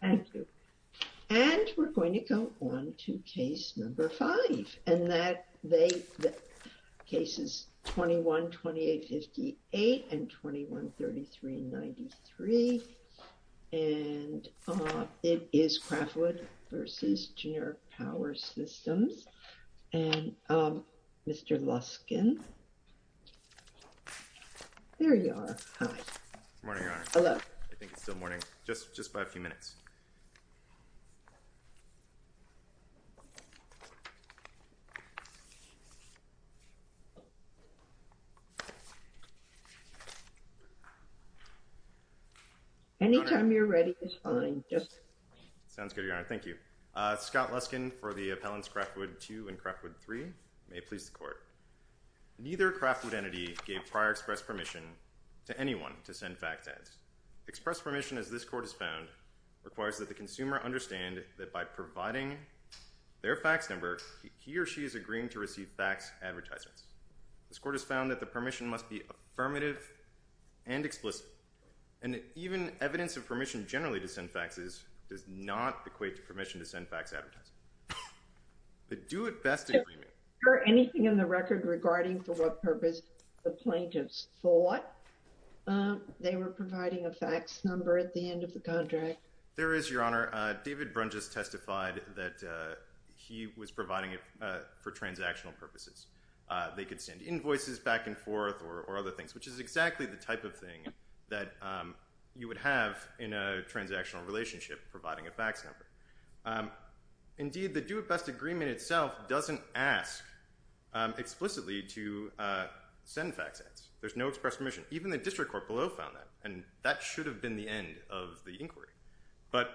Thank you. And we're going to go on to case number five, and that case is 21-2858 and 21-3393. And it is Craftwood v. Generac Power Systems. And Mr. Luskin, there you are, hi. Morning, Your Honor. Hello. I think it's still morning, just by a few minutes. Anytime you're ready is fine. Sounds good, Your Honor, thank you. Scott Luskin for the appellants Craftwood II and Craftwood III. May it please the court. Neither Craftwood entity gave prior express permission to anyone to send fact ads. Express permission, as this court has found, requires that the consumer understand that by providing their fax number, he or she is agreeing to receive fax advertisements. This court has found that the permission must be affirmative and explicit, and that even evidence of permission generally to send faxes does not equate to permission to send fax advertisements. The do it best agreement. Is there anything in the record regarding for what purpose the plaintiffs thought they were providing a fax number at the end of the contract? There is, Your Honor. David Brun just testified that he was providing it for transactional purposes. They could send invoices back and forth or other things, which is exactly the type of thing that you would have in a transactional relationship providing a fax number. Indeed, the do it best agreement itself doesn't ask explicitly to send fax ads. There's no express permission. Even the district court below found that, and that should have been the end of the inquiry, but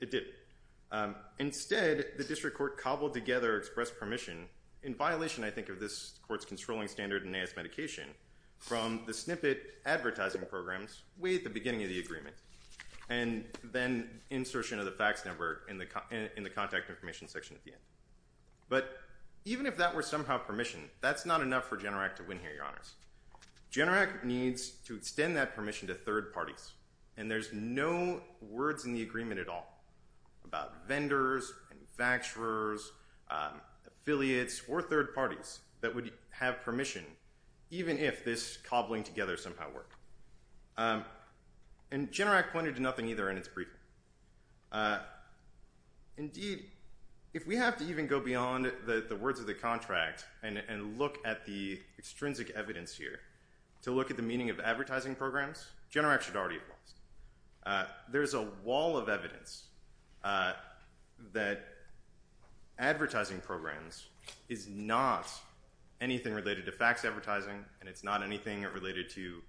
it didn't. Instead, the district court cobbled together express permission, in violation, I think, of this court's controlling standard in AS Medication, from the snippet advertising programs way at the beginning of the agreement, and then insertion of the fax number in the contact information section at the end. But even if that were somehow permission, that's not enough for Generac to win here, Your Honors. Generac needs to extend that permission to third parties, and there's no words in the agreement at all about vendors and faxers, affiliates, or third parties that would have permission, even if this cobbling together somehow worked. And Generac pointed to nothing either in its briefing. Indeed, if we have to even go beyond the words of the contract, and look at the extrinsic evidence here, to look at the meaning of advertising programs, Generac should already have lost. There's a wall of evidence that advertising programs is not anything related to fax advertising, and it's not anything related to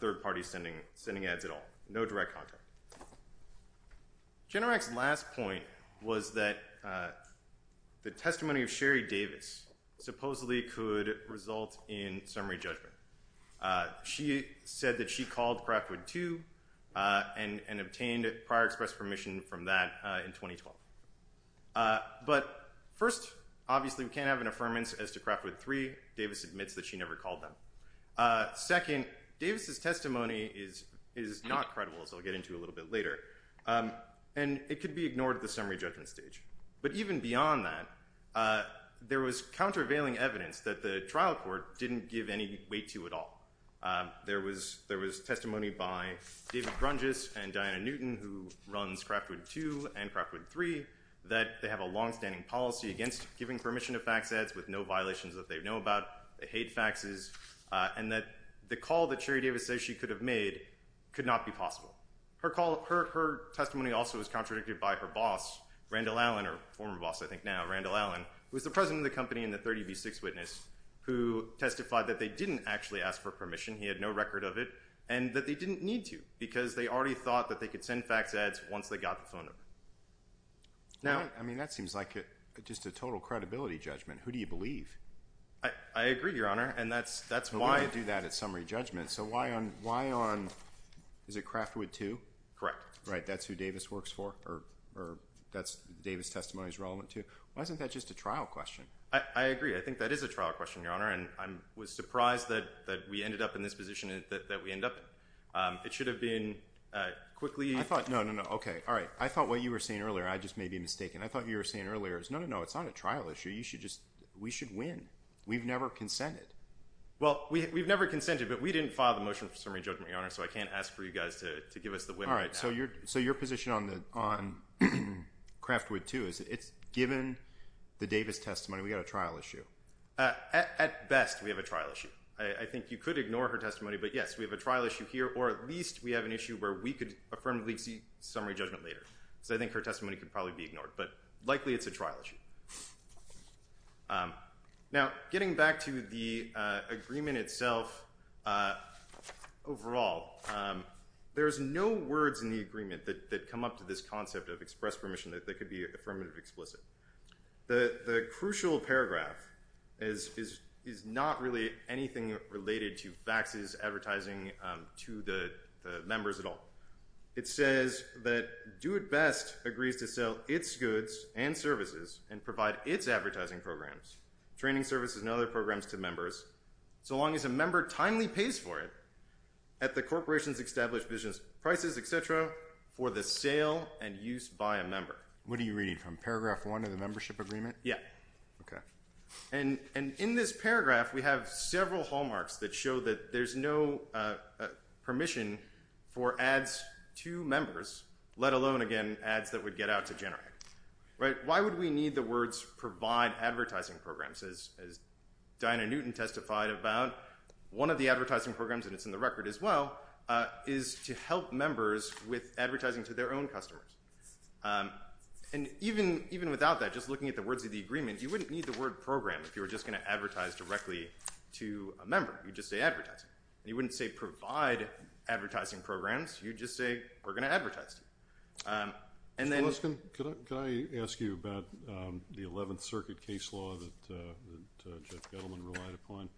third parties sending ads at all. No direct contact. Generac's last point was that the testimony of Sherry Davis supposedly could result in summary judgment. She said that she called Craftwood 2, and obtained prior express permission from that in 2012. But first, obviously we can't have an affirmance as to Craftwood 3. Davis admits that she never called them. Second, Davis's testimony is not credible, as I'll get into a little bit later. And it could be ignored at the summary judgment stage. But even beyond that, there was countervailing evidence that the trial court didn't give any weight to at all. There was testimony by David Brungess and Diana Newton, who runs Craftwood 2 and Craftwood 3, that they have a longstanding policy against giving permission to fax ads with no violations that they know about. They hate faxes. And that the call that Sherry Davis says she could have made could not be possible. Her testimony also was contradicted by her boss, Randall Allen, or former boss, I think now, Randall Allen, who was the president of the company in the 30 v. Six Witness, who testified that they didn't actually ask for permission. He had no record of it, and that they didn't need to, because they already thought that they could send fax ads once they got the phone number. Now- I mean, that seems like just a total credibility judgment. Who do you believe? I agree, Your Honor, and that's why- Well, we're gonna do that at summary judgment. So why on, why on, is it Craftwood 2? Correct. Right, that's who Davis works for, or that's Davis' testimony is relevant to. Why isn't that just a trial question? I agree, I think that is a trial question, Your Honor, and I was surprised that we ended up in this position that we end up in. It should have been quickly- I thought, no, no, no, okay, all right. I thought what you were saying earlier, I just may be mistaken. I thought what you were saying earlier is no, no, no, it's not a trial issue. You should just, we should win. We've never consented. Well, we've never consented, but we didn't file the motion for summary judgment, Your Honor, so I can't ask for you guys to give us the win right now. So your position on Craftwood 2 is it's given the Davis testimony, we got a trial issue. At best, we have a trial issue. I think you could ignore her testimony, but yes, we have a trial issue here, or at least we have an issue where we could affirmably see summary judgment later. So I think her testimony could probably be ignored, but likely it's a trial issue. Now, getting back to the agreement itself overall, there's no words in the agreement that come up to this concept of express permission that could be affirmative explicit. The crucial paragraph is not really anything related to faxes, advertising to the members at all. It says that do it best agrees to sell its goods and services and provide its advertising programs, training services and other programs to members, so long as a member timely pays for it at the corporation's established business prices, et cetera, for the sale and use by a member. What are you reading from? Paragraph one of the membership agreement? Yeah. Okay. And in this paragraph, we have several hallmarks that show that there's no permission for ads to members, let alone, again, ads that would get out to generate. Why would we need the words provide advertising programs as Diana Newton testified about? One of the advertising programs, and it's in the record as well, is to help members with advertising to their own customers. And even without that, just looking at the words of the agreement, you wouldn't need the word program if you were just gonna advertise directly to a member, you'd just say advertising. And you wouldn't say provide advertising programs, you'd just say we're gonna advertise to them. And then- Mr. Luskin, could I ask you about the 11th Circuit case law that Jeff Gettleman relied upon?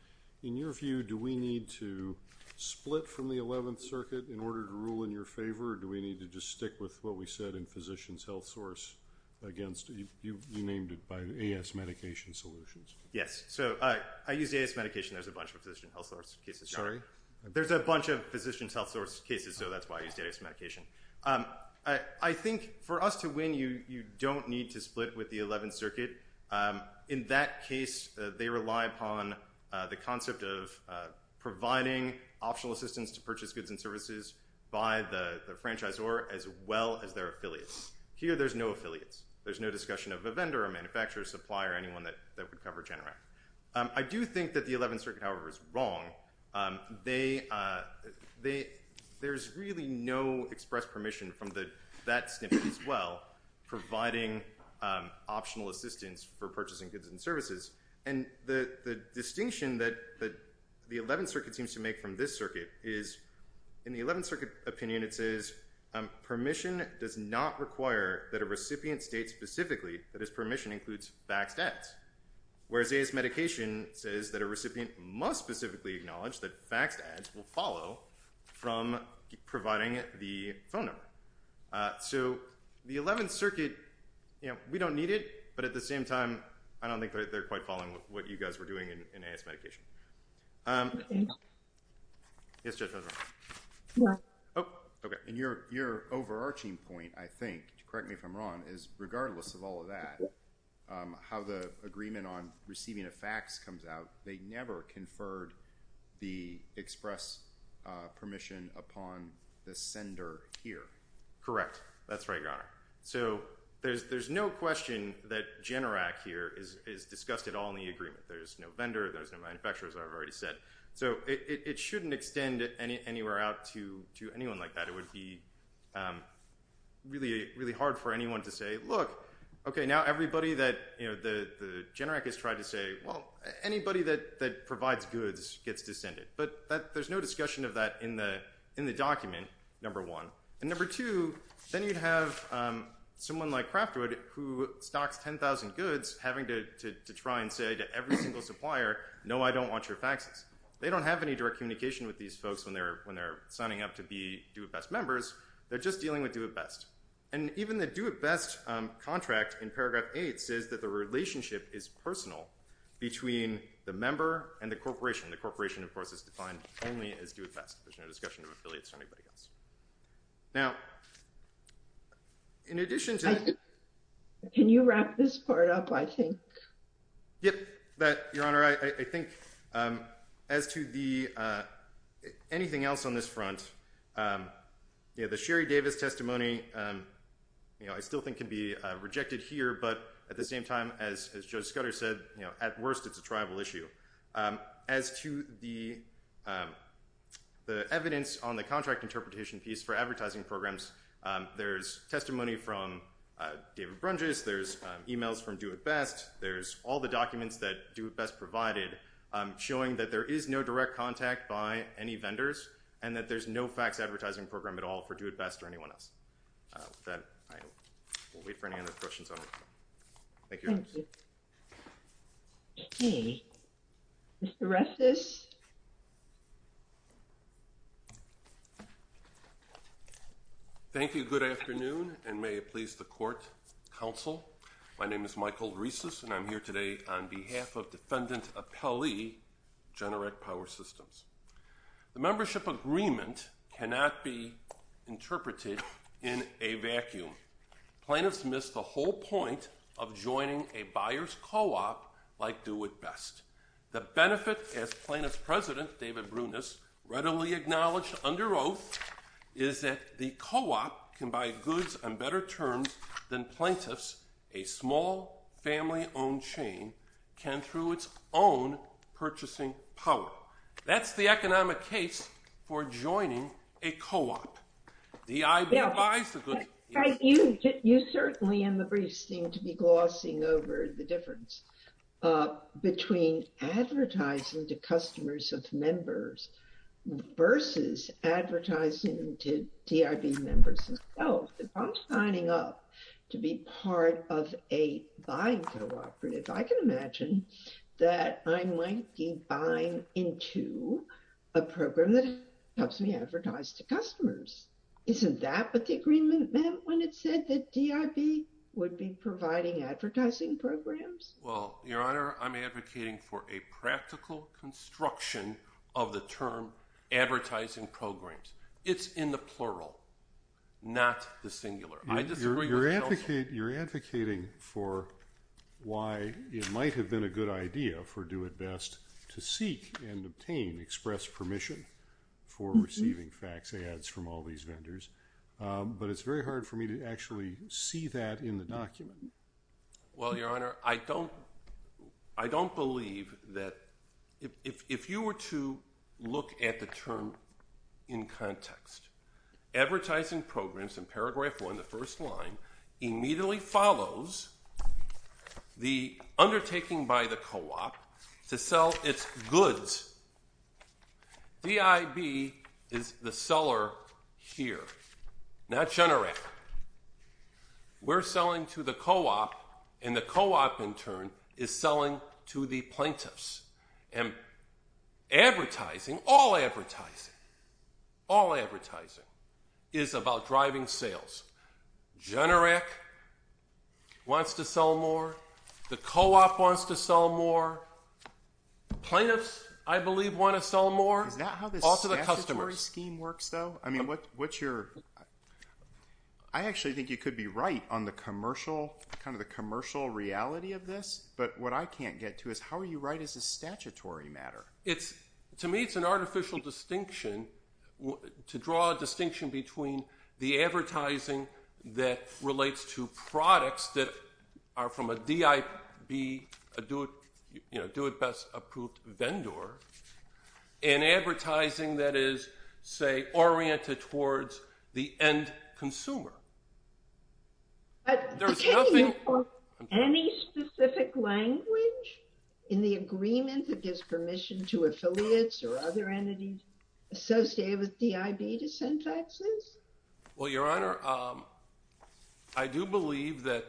In your view, do we need to split from the 11th Circuit in order to rule in your favor, or do we need to just stick with what we said in Physician's HealthSource against, you named it by AS Medication Solutions. Yes, so I used AS Medication, there's a bunch of Physician's HealthSource cases. Sorry? There's a bunch of Physician's HealthSource cases, so that's why I used AS Medication. I think for us to win, you don't need to split with the 11th Circuit. In that case, they rely upon the concept of providing optional assistance to purchase goods and services by the franchisor as well as their affiliates. Here, there's no affiliates. There's no discussion of a vendor, a manufacturer, a supplier, anyone that would cover Generac. I do think that the 11th Circuit, however, is wrong. They, there's really no express permission from that snippet as well, providing optional assistance for purchasing goods and services. And the distinction that the 11th Circuit seems to make from this circuit is, in the 11th Circuit opinion, it says, permission does not require that a recipient state specifically that his permission includes faxed debts. Whereas AS Medication says that a recipient must specifically acknowledge that faxed ads will follow from providing the phone number. So the 11th Circuit, you know, we don't need it, but at the same time, I don't think they're quite following what you guys were doing in AS Medication. Yes, Judge, I was wrong. Oh, okay. And your overarching point, I think, to correct me if I'm wrong, is regardless of all of that, how the agreement on receiving a fax comes out, they never conferred the express permission upon the sender here. Correct. That's right, Your Honor. So there's no question that Generac here is discussed at all in the agreement. There's no vendor, there's no manufacturer, as I've already said. So it shouldn't extend anywhere out to anyone like that. It would be really hard for anyone to say, look, okay, now everybody that, you know, the Generac has tried to say, well, anybody that provides goods gets to send it. But there's no discussion of that in the document, number one. And number two, then you'd have someone like Craftwood who stocks 10,000 goods, having to try and say to every single supplier, no, I don't want your faxes. They don't have any direct communication with these folks when they're signing up to be Do It Best members. They're just dealing with Do It Best. And even the Do It Best contract in paragraph eight says that the relationship is personal between the member and the corporation. The corporation, of course, is defined only as Do It Best. There's no discussion of affiliates or anybody else. Now, in addition to- Can you wrap this part up, I think? Yep, Your Honor. I think as to the, anything else on this front, you know, the Sherry Davis testimony, you know, I still think can be rejected here, but at the same time, as Judge Scudder said, you know, at worst, it's a tribal issue. As to the evidence on the contract interpretation piece for advertising programs, there's testimony from David Brunges, there's emails from Do It Best, there's all the documents that Do It Best provided showing that there is no direct contact by any vendors and that there's no fax advertising program at all for Do It Best or anyone else. With that, I will wait for any other questions on the floor. Thank you, Your Honor. Thank you. Okay, Mr. Resses. Thank you, good afternoon, and may it please the court, counsel. My name is Michael Resses, and I'm here today on behalf of Defendant Appellee, Generic Power Systems. The membership agreement cannot be interpreted in a vacuum. Plaintiffs miss the whole point of joining a buyer's co-op like Do It Best. The benefit, as Plaintiff's President, David Brunges, readily acknowledged under oath, is that the co-op can buy goods on better terms than plaintiffs, a small family-owned chain, can through its own purchasing power. That's the economic case for joining a co-op. The I.B. buys the goods. You certainly, in the briefs, seem to be glossing over the difference between advertising to customers of members versus advertising to T.I.B. members themselves. If I'm signing up to be part of a buying co-operative, I can imagine that I might be buying into a program that helps me advertise to customers. Isn't that what the agreement meant when it said that T.I.B. would be providing advertising programs? Well, Your Honor, I'm advocating for a practical construction of the term advertising programs. It's in the plural, not the singular. I disagree with counsel. You're advocating for why it might have been a good idea for Do It Best to seek and obtain express permission for receiving fax ads from all these vendors, but it's very hard for me to actually see that in the document. Well, Your Honor, I don't believe that, if you were to look at the term in context, advertising programs in paragraph one, the first line, immediately follows the undertaking by the co-op to sell its goods. T.I.B. is the seller here, not Generac. We're selling to the co-op, and the co-op, in turn, is selling to the plaintiffs, and advertising, all advertising, all advertising is about driving sales. Generac wants to sell more. The co-op wants to sell more. Plaintiffs, I believe, want to sell more. Is that how this statutory scheme works, though? I mean, what's your, I actually think you could be right on the commercial, kind of the commercial reality of this, but what I can't get to is, how are you right as a statutory matter? To me, it's an artificial distinction, to draw a distinction between the advertising that relates to products that are from a T.I.B., a do-it-best-approved vendor, and advertising that is, say, oriented towards the end consumer. There's nothing- But can you put any specific language in the agreement that gives permission to affiliates or other entities associated with T.I.B. to send taxes? Well, Your Honor, I do believe that,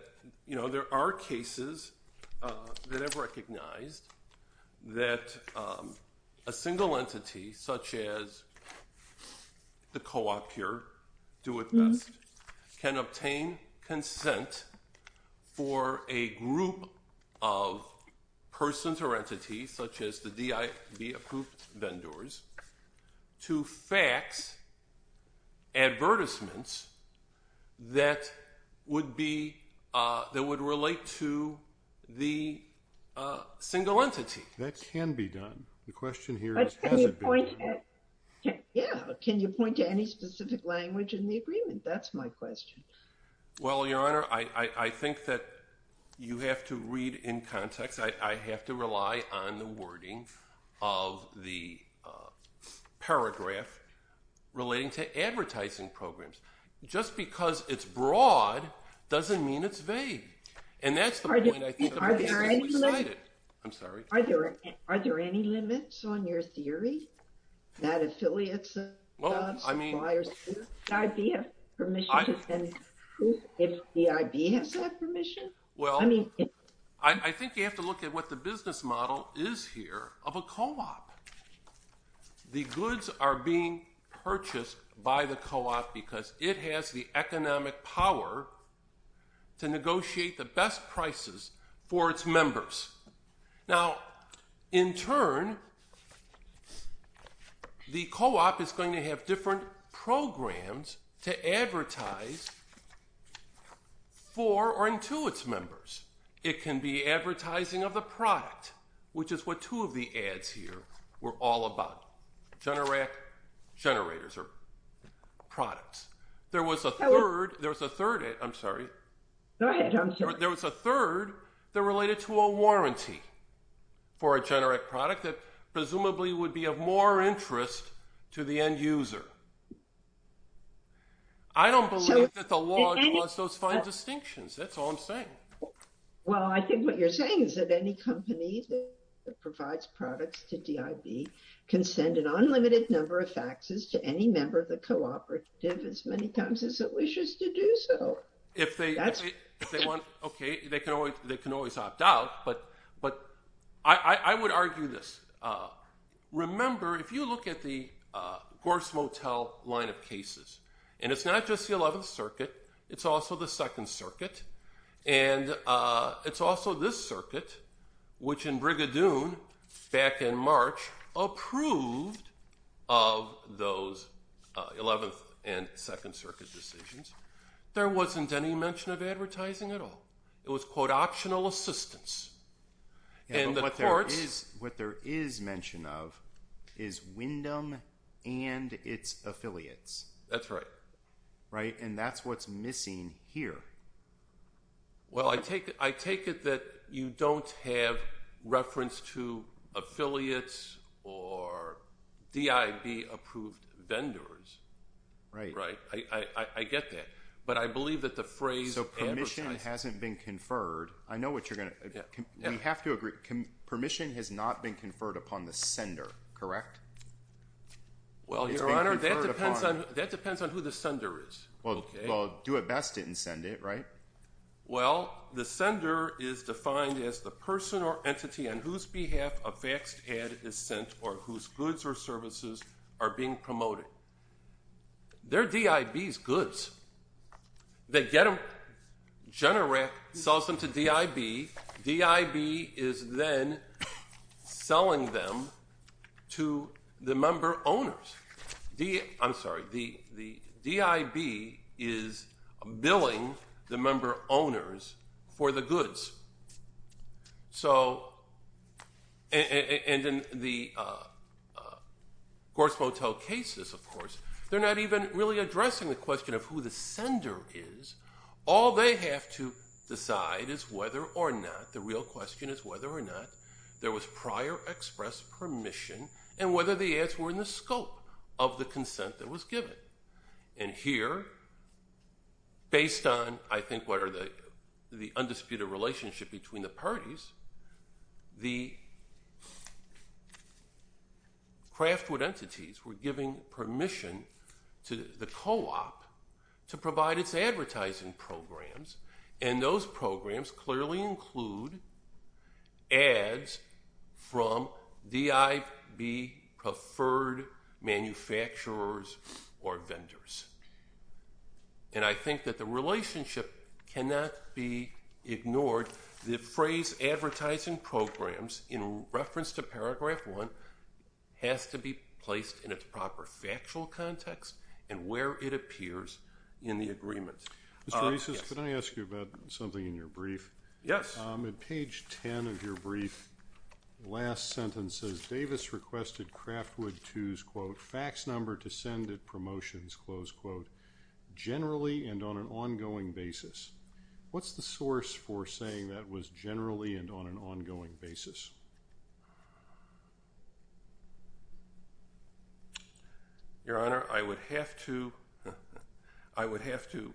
you know, there are cases that I've recognized that a single entity, such as the co-op here, do-it-best, can obtain consent for a group of persons or entities, such as the T.I.B.-approved vendors, to fax advertisements that would be, that would relate to the single entity. That can be done. The question here is, has it been done? Yeah, but can you point to any specific language in the agreement? That's my question. Well, Your Honor, I think that you have to read in context. I have to rely on the wording of the paragraph relating to advertising programs. Just because it's broad doesn't mean it's vague. And that's the point I think- Are there any limits? I'm sorry? Are there any limits on your theory that affiliates and suppliers- Well, I mean- T.I.B. has permission to send proof if T.I.B. has that permission? Well, I think you have to look at what the business model is here of a co-op. The goods are being purchased by the co-op because it has the economic power to negotiate the best prices for its members. Now, in turn, the co-op is going to have different programs to advertise for or intuitively. It can be business members. It can be advertising of the product, which is what two of the ads here were all about, Generac generators or products. There was a third, I'm sorry. Go ahead, I'm sorry. There was a third that related to a warranty for a Generac product that presumably I don't believe that the law allows those fine distinctions. That's all I'm saying. Well, I think what you're saying is that any company that provides products to T.I.B. can send an unlimited number of faxes to any member of the co-operative as many times as it wishes to do so. If they want, okay, they can always opt out, but I would argue this. Remember, if you look at the Gorse Motel line of cases, and it's not just the 11th Circuit, it's also the Second Circuit, and it's also this circuit, which in Brigadoon back in March approved of those 11th and Second Circuit decisions. There wasn't any mention of advertising at all. It was, quote, optional assistance. And the courts- What there is mention of is Wyndham and its affiliates. That's right. Right, and that's what's missing here. Well, I take it that you don't have reference to affiliates or T.I.B. approved vendors. Right. Right. I get that, but I believe that the phrase- So permission hasn't been conferred. I know what you're gonna, we have to agree. Permission has not been conferred upon the sender, correct? Well, Your Honor, that depends on who the sender is, okay? Well, Do It Best didn't send it, right? Well, the sender is defined as the person or entity on whose behalf a faxed ad is sent or whose goods or services are being promoted. They're T.I.B.'s goods. They get them, Generac sells them to T.I.B., T.I.B. is then selling them to the member owners. The, I'm sorry, the T.I.B. is billing the member owners for the goods. So, and in the Gorse Motel cases, of course, they're not even really addressing the question of who the sender is. All they have to decide is whether or not, the real question is whether or not there was prior express permission and whether the ads were in the scope of the consent that was given. And here, based on, I think, what are the, the undisputed relationship between the parties, the craftwood entities were giving permission to the co-op to provide its advertising programs and those programs clearly include ads from T.I.B. preferred manufacturers or vendors. And I think that the relationship cannot be ignored. The phrase advertising programs in reference to paragraph one has to be placed in its proper factual context and where it appears in the agreement. Mr. Reeses, can I ask you about something in your brief? Yes. In page 10 of your brief, last sentence says, Davis requested craftwood twos, quote, fax number to send it promotions, close quote, generally and on an ongoing basis. What's the source for saying that was generally and on an ongoing basis? Your honor, I would have to, I would have to,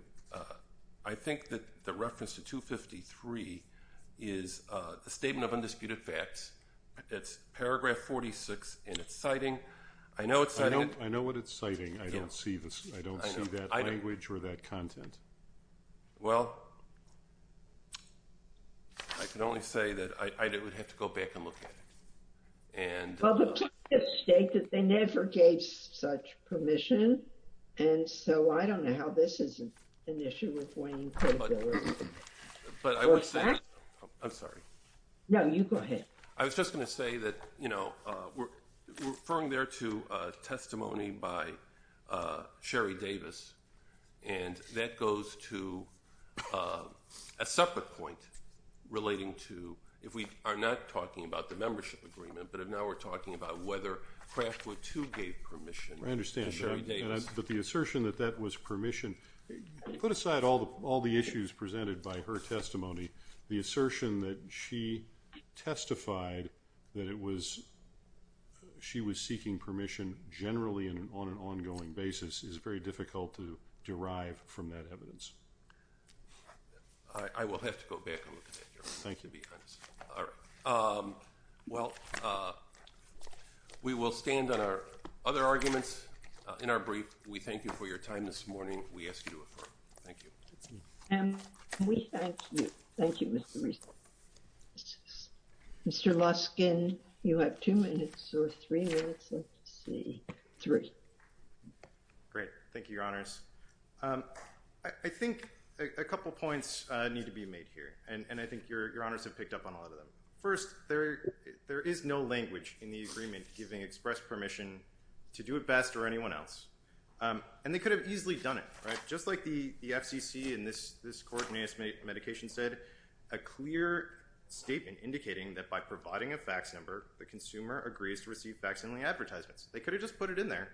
I think that the reference to 253 is the statement of undisputed facts, it's paragraph 46 and it's citing, I know it's citing. I know what it's citing, I don't see this, I don't see that language or that content. Well, I can only say that I would have to go back and look at it and. Well, the plaintiffs state that they never gave such permission and so I don't know how this is an issue with Wayne Caterpillar. But I would say, I'm sorry. No, you go ahead. I was just gonna say that, you know, we're referring there to a testimony by Sherry Davis and that goes to a separate point relating to, if we are not talking about the membership agreement, but if now we're talking about whether craftwood two gave permission. I understand, but the assertion that that was permission put aside all the issues presented by her testimony, the assertion that she testified that it was, she was seeking permission generally and on an ongoing basis is very difficult to derive from that evidence. I will have to go back and look at that. Thank you. Well, we will stand on our other arguments in our brief. We thank you for your time this morning. We will do what we ask you to do. Thank you. We thank you. Thank you, Mr. Rees. Mr. Luskin, you have two minutes or three minutes, let's see, three. Great, thank you, your honors. I think a couple of points need to be made here and I think your honors have picked up on a lot of them. First, there is no language in the agreement giving express permission to do it best or anyone else. And they could have easily done it, right? Just like the FCC in this coordinated medication said, a clear statement indicating that by providing a fax number, the consumer agrees to receive vaccine advertisements. They could have just put it in there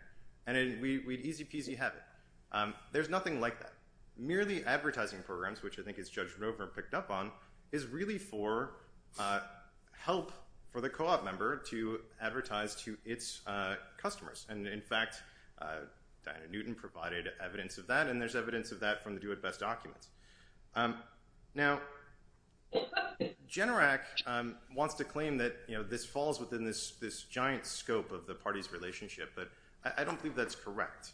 and then we'd easy peasy have it. There's nothing like that. Merely advertising programs, which I think is Judge Roper picked up on is really for help for the co-op member to advertise to its customers. And in fact, Diana Newton provided evidence of that and there's evidence of that from the do it best documents. Now, Generac wants to claim that this falls within this giant scope of the party's relationship, but I don't believe that's correct.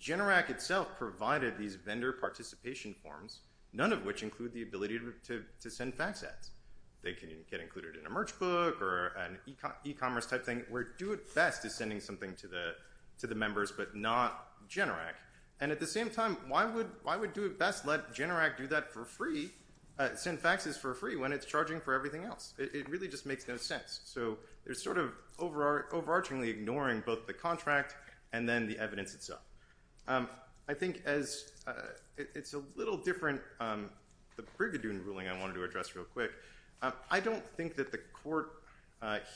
Generac itself provided these vendor participation forms, none of which include the ability to send fax ads. They can get included in a merch book or an e-commerce type thing, where do it best is sending something to the members, but not Generac. And at the same time, why would do it best let Generac do that for free, send faxes for free when it's charging for everything else? It really just makes no sense. So there's sort of overarchingly ignoring both the contract and then the evidence itself. I think as it's a little different, the Brigadoon ruling I wanted to address real quick. I don't think that the court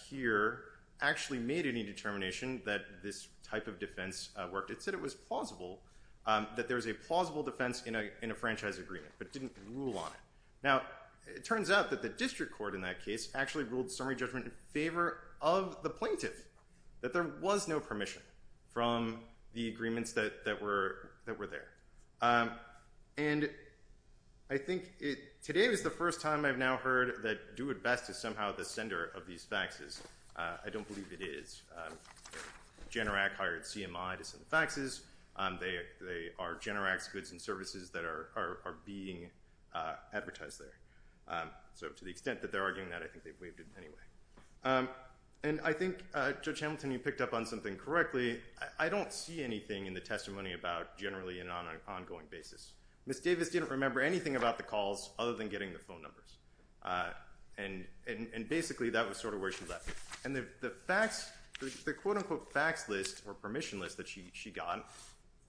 here actually made any determination that this type of defense worked. It said it was plausible, that there was a plausible defense in a franchise agreement, but didn't rule on it. Now, it turns out that the district court in that case actually ruled summary judgment in favor of the plaintiff, that there was no permission from the agreements that were there. And I think today was the first time I've now heard that do it best is somehow the sender of these faxes. I don't believe it is. Generac hired CMI to send faxes. They are Generac's goods and services that are being advertised there. So to the extent that they're arguing that, I think they've waived it anyway. And I think Judge Hamilton, you picked up on something correctly. I don't see anything in the testimony about generally an ongoing basis. Ms. Davis didn't remember anything about the calls other than getting the phone numbers. And basically that was sort of where she left. And the quote unquote fax list or permission list that she got,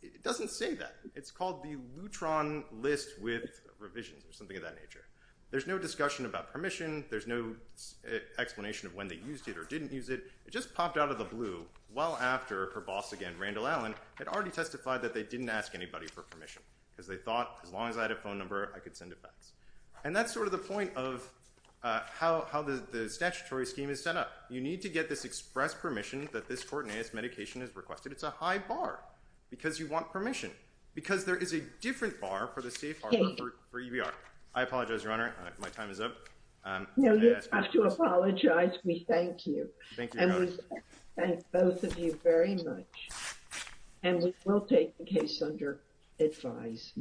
it doesn't say that. It's called the Lutron list with revisions or something of that nature. There's no discussion about permission. There's no explanation of when they used it or didn't use it. It just popped out of the blue well after her boss again, Randall Allen, had already testified that they didn't ask anybody for permission because they thought as long as I had a phone number, I could send a fax. And that's sort of the point of how the statutory scheme is set up. You need to get this express permission that this Cortinez medication is requested. It's a high bar because you want permission because there is a different bar for the CFR for EBR. I apologize, Your Honor. My time is up. No, you have to apologize. We thank you. Thank you, Your Honor. And we thank both of you very much. And we will take the case under advice.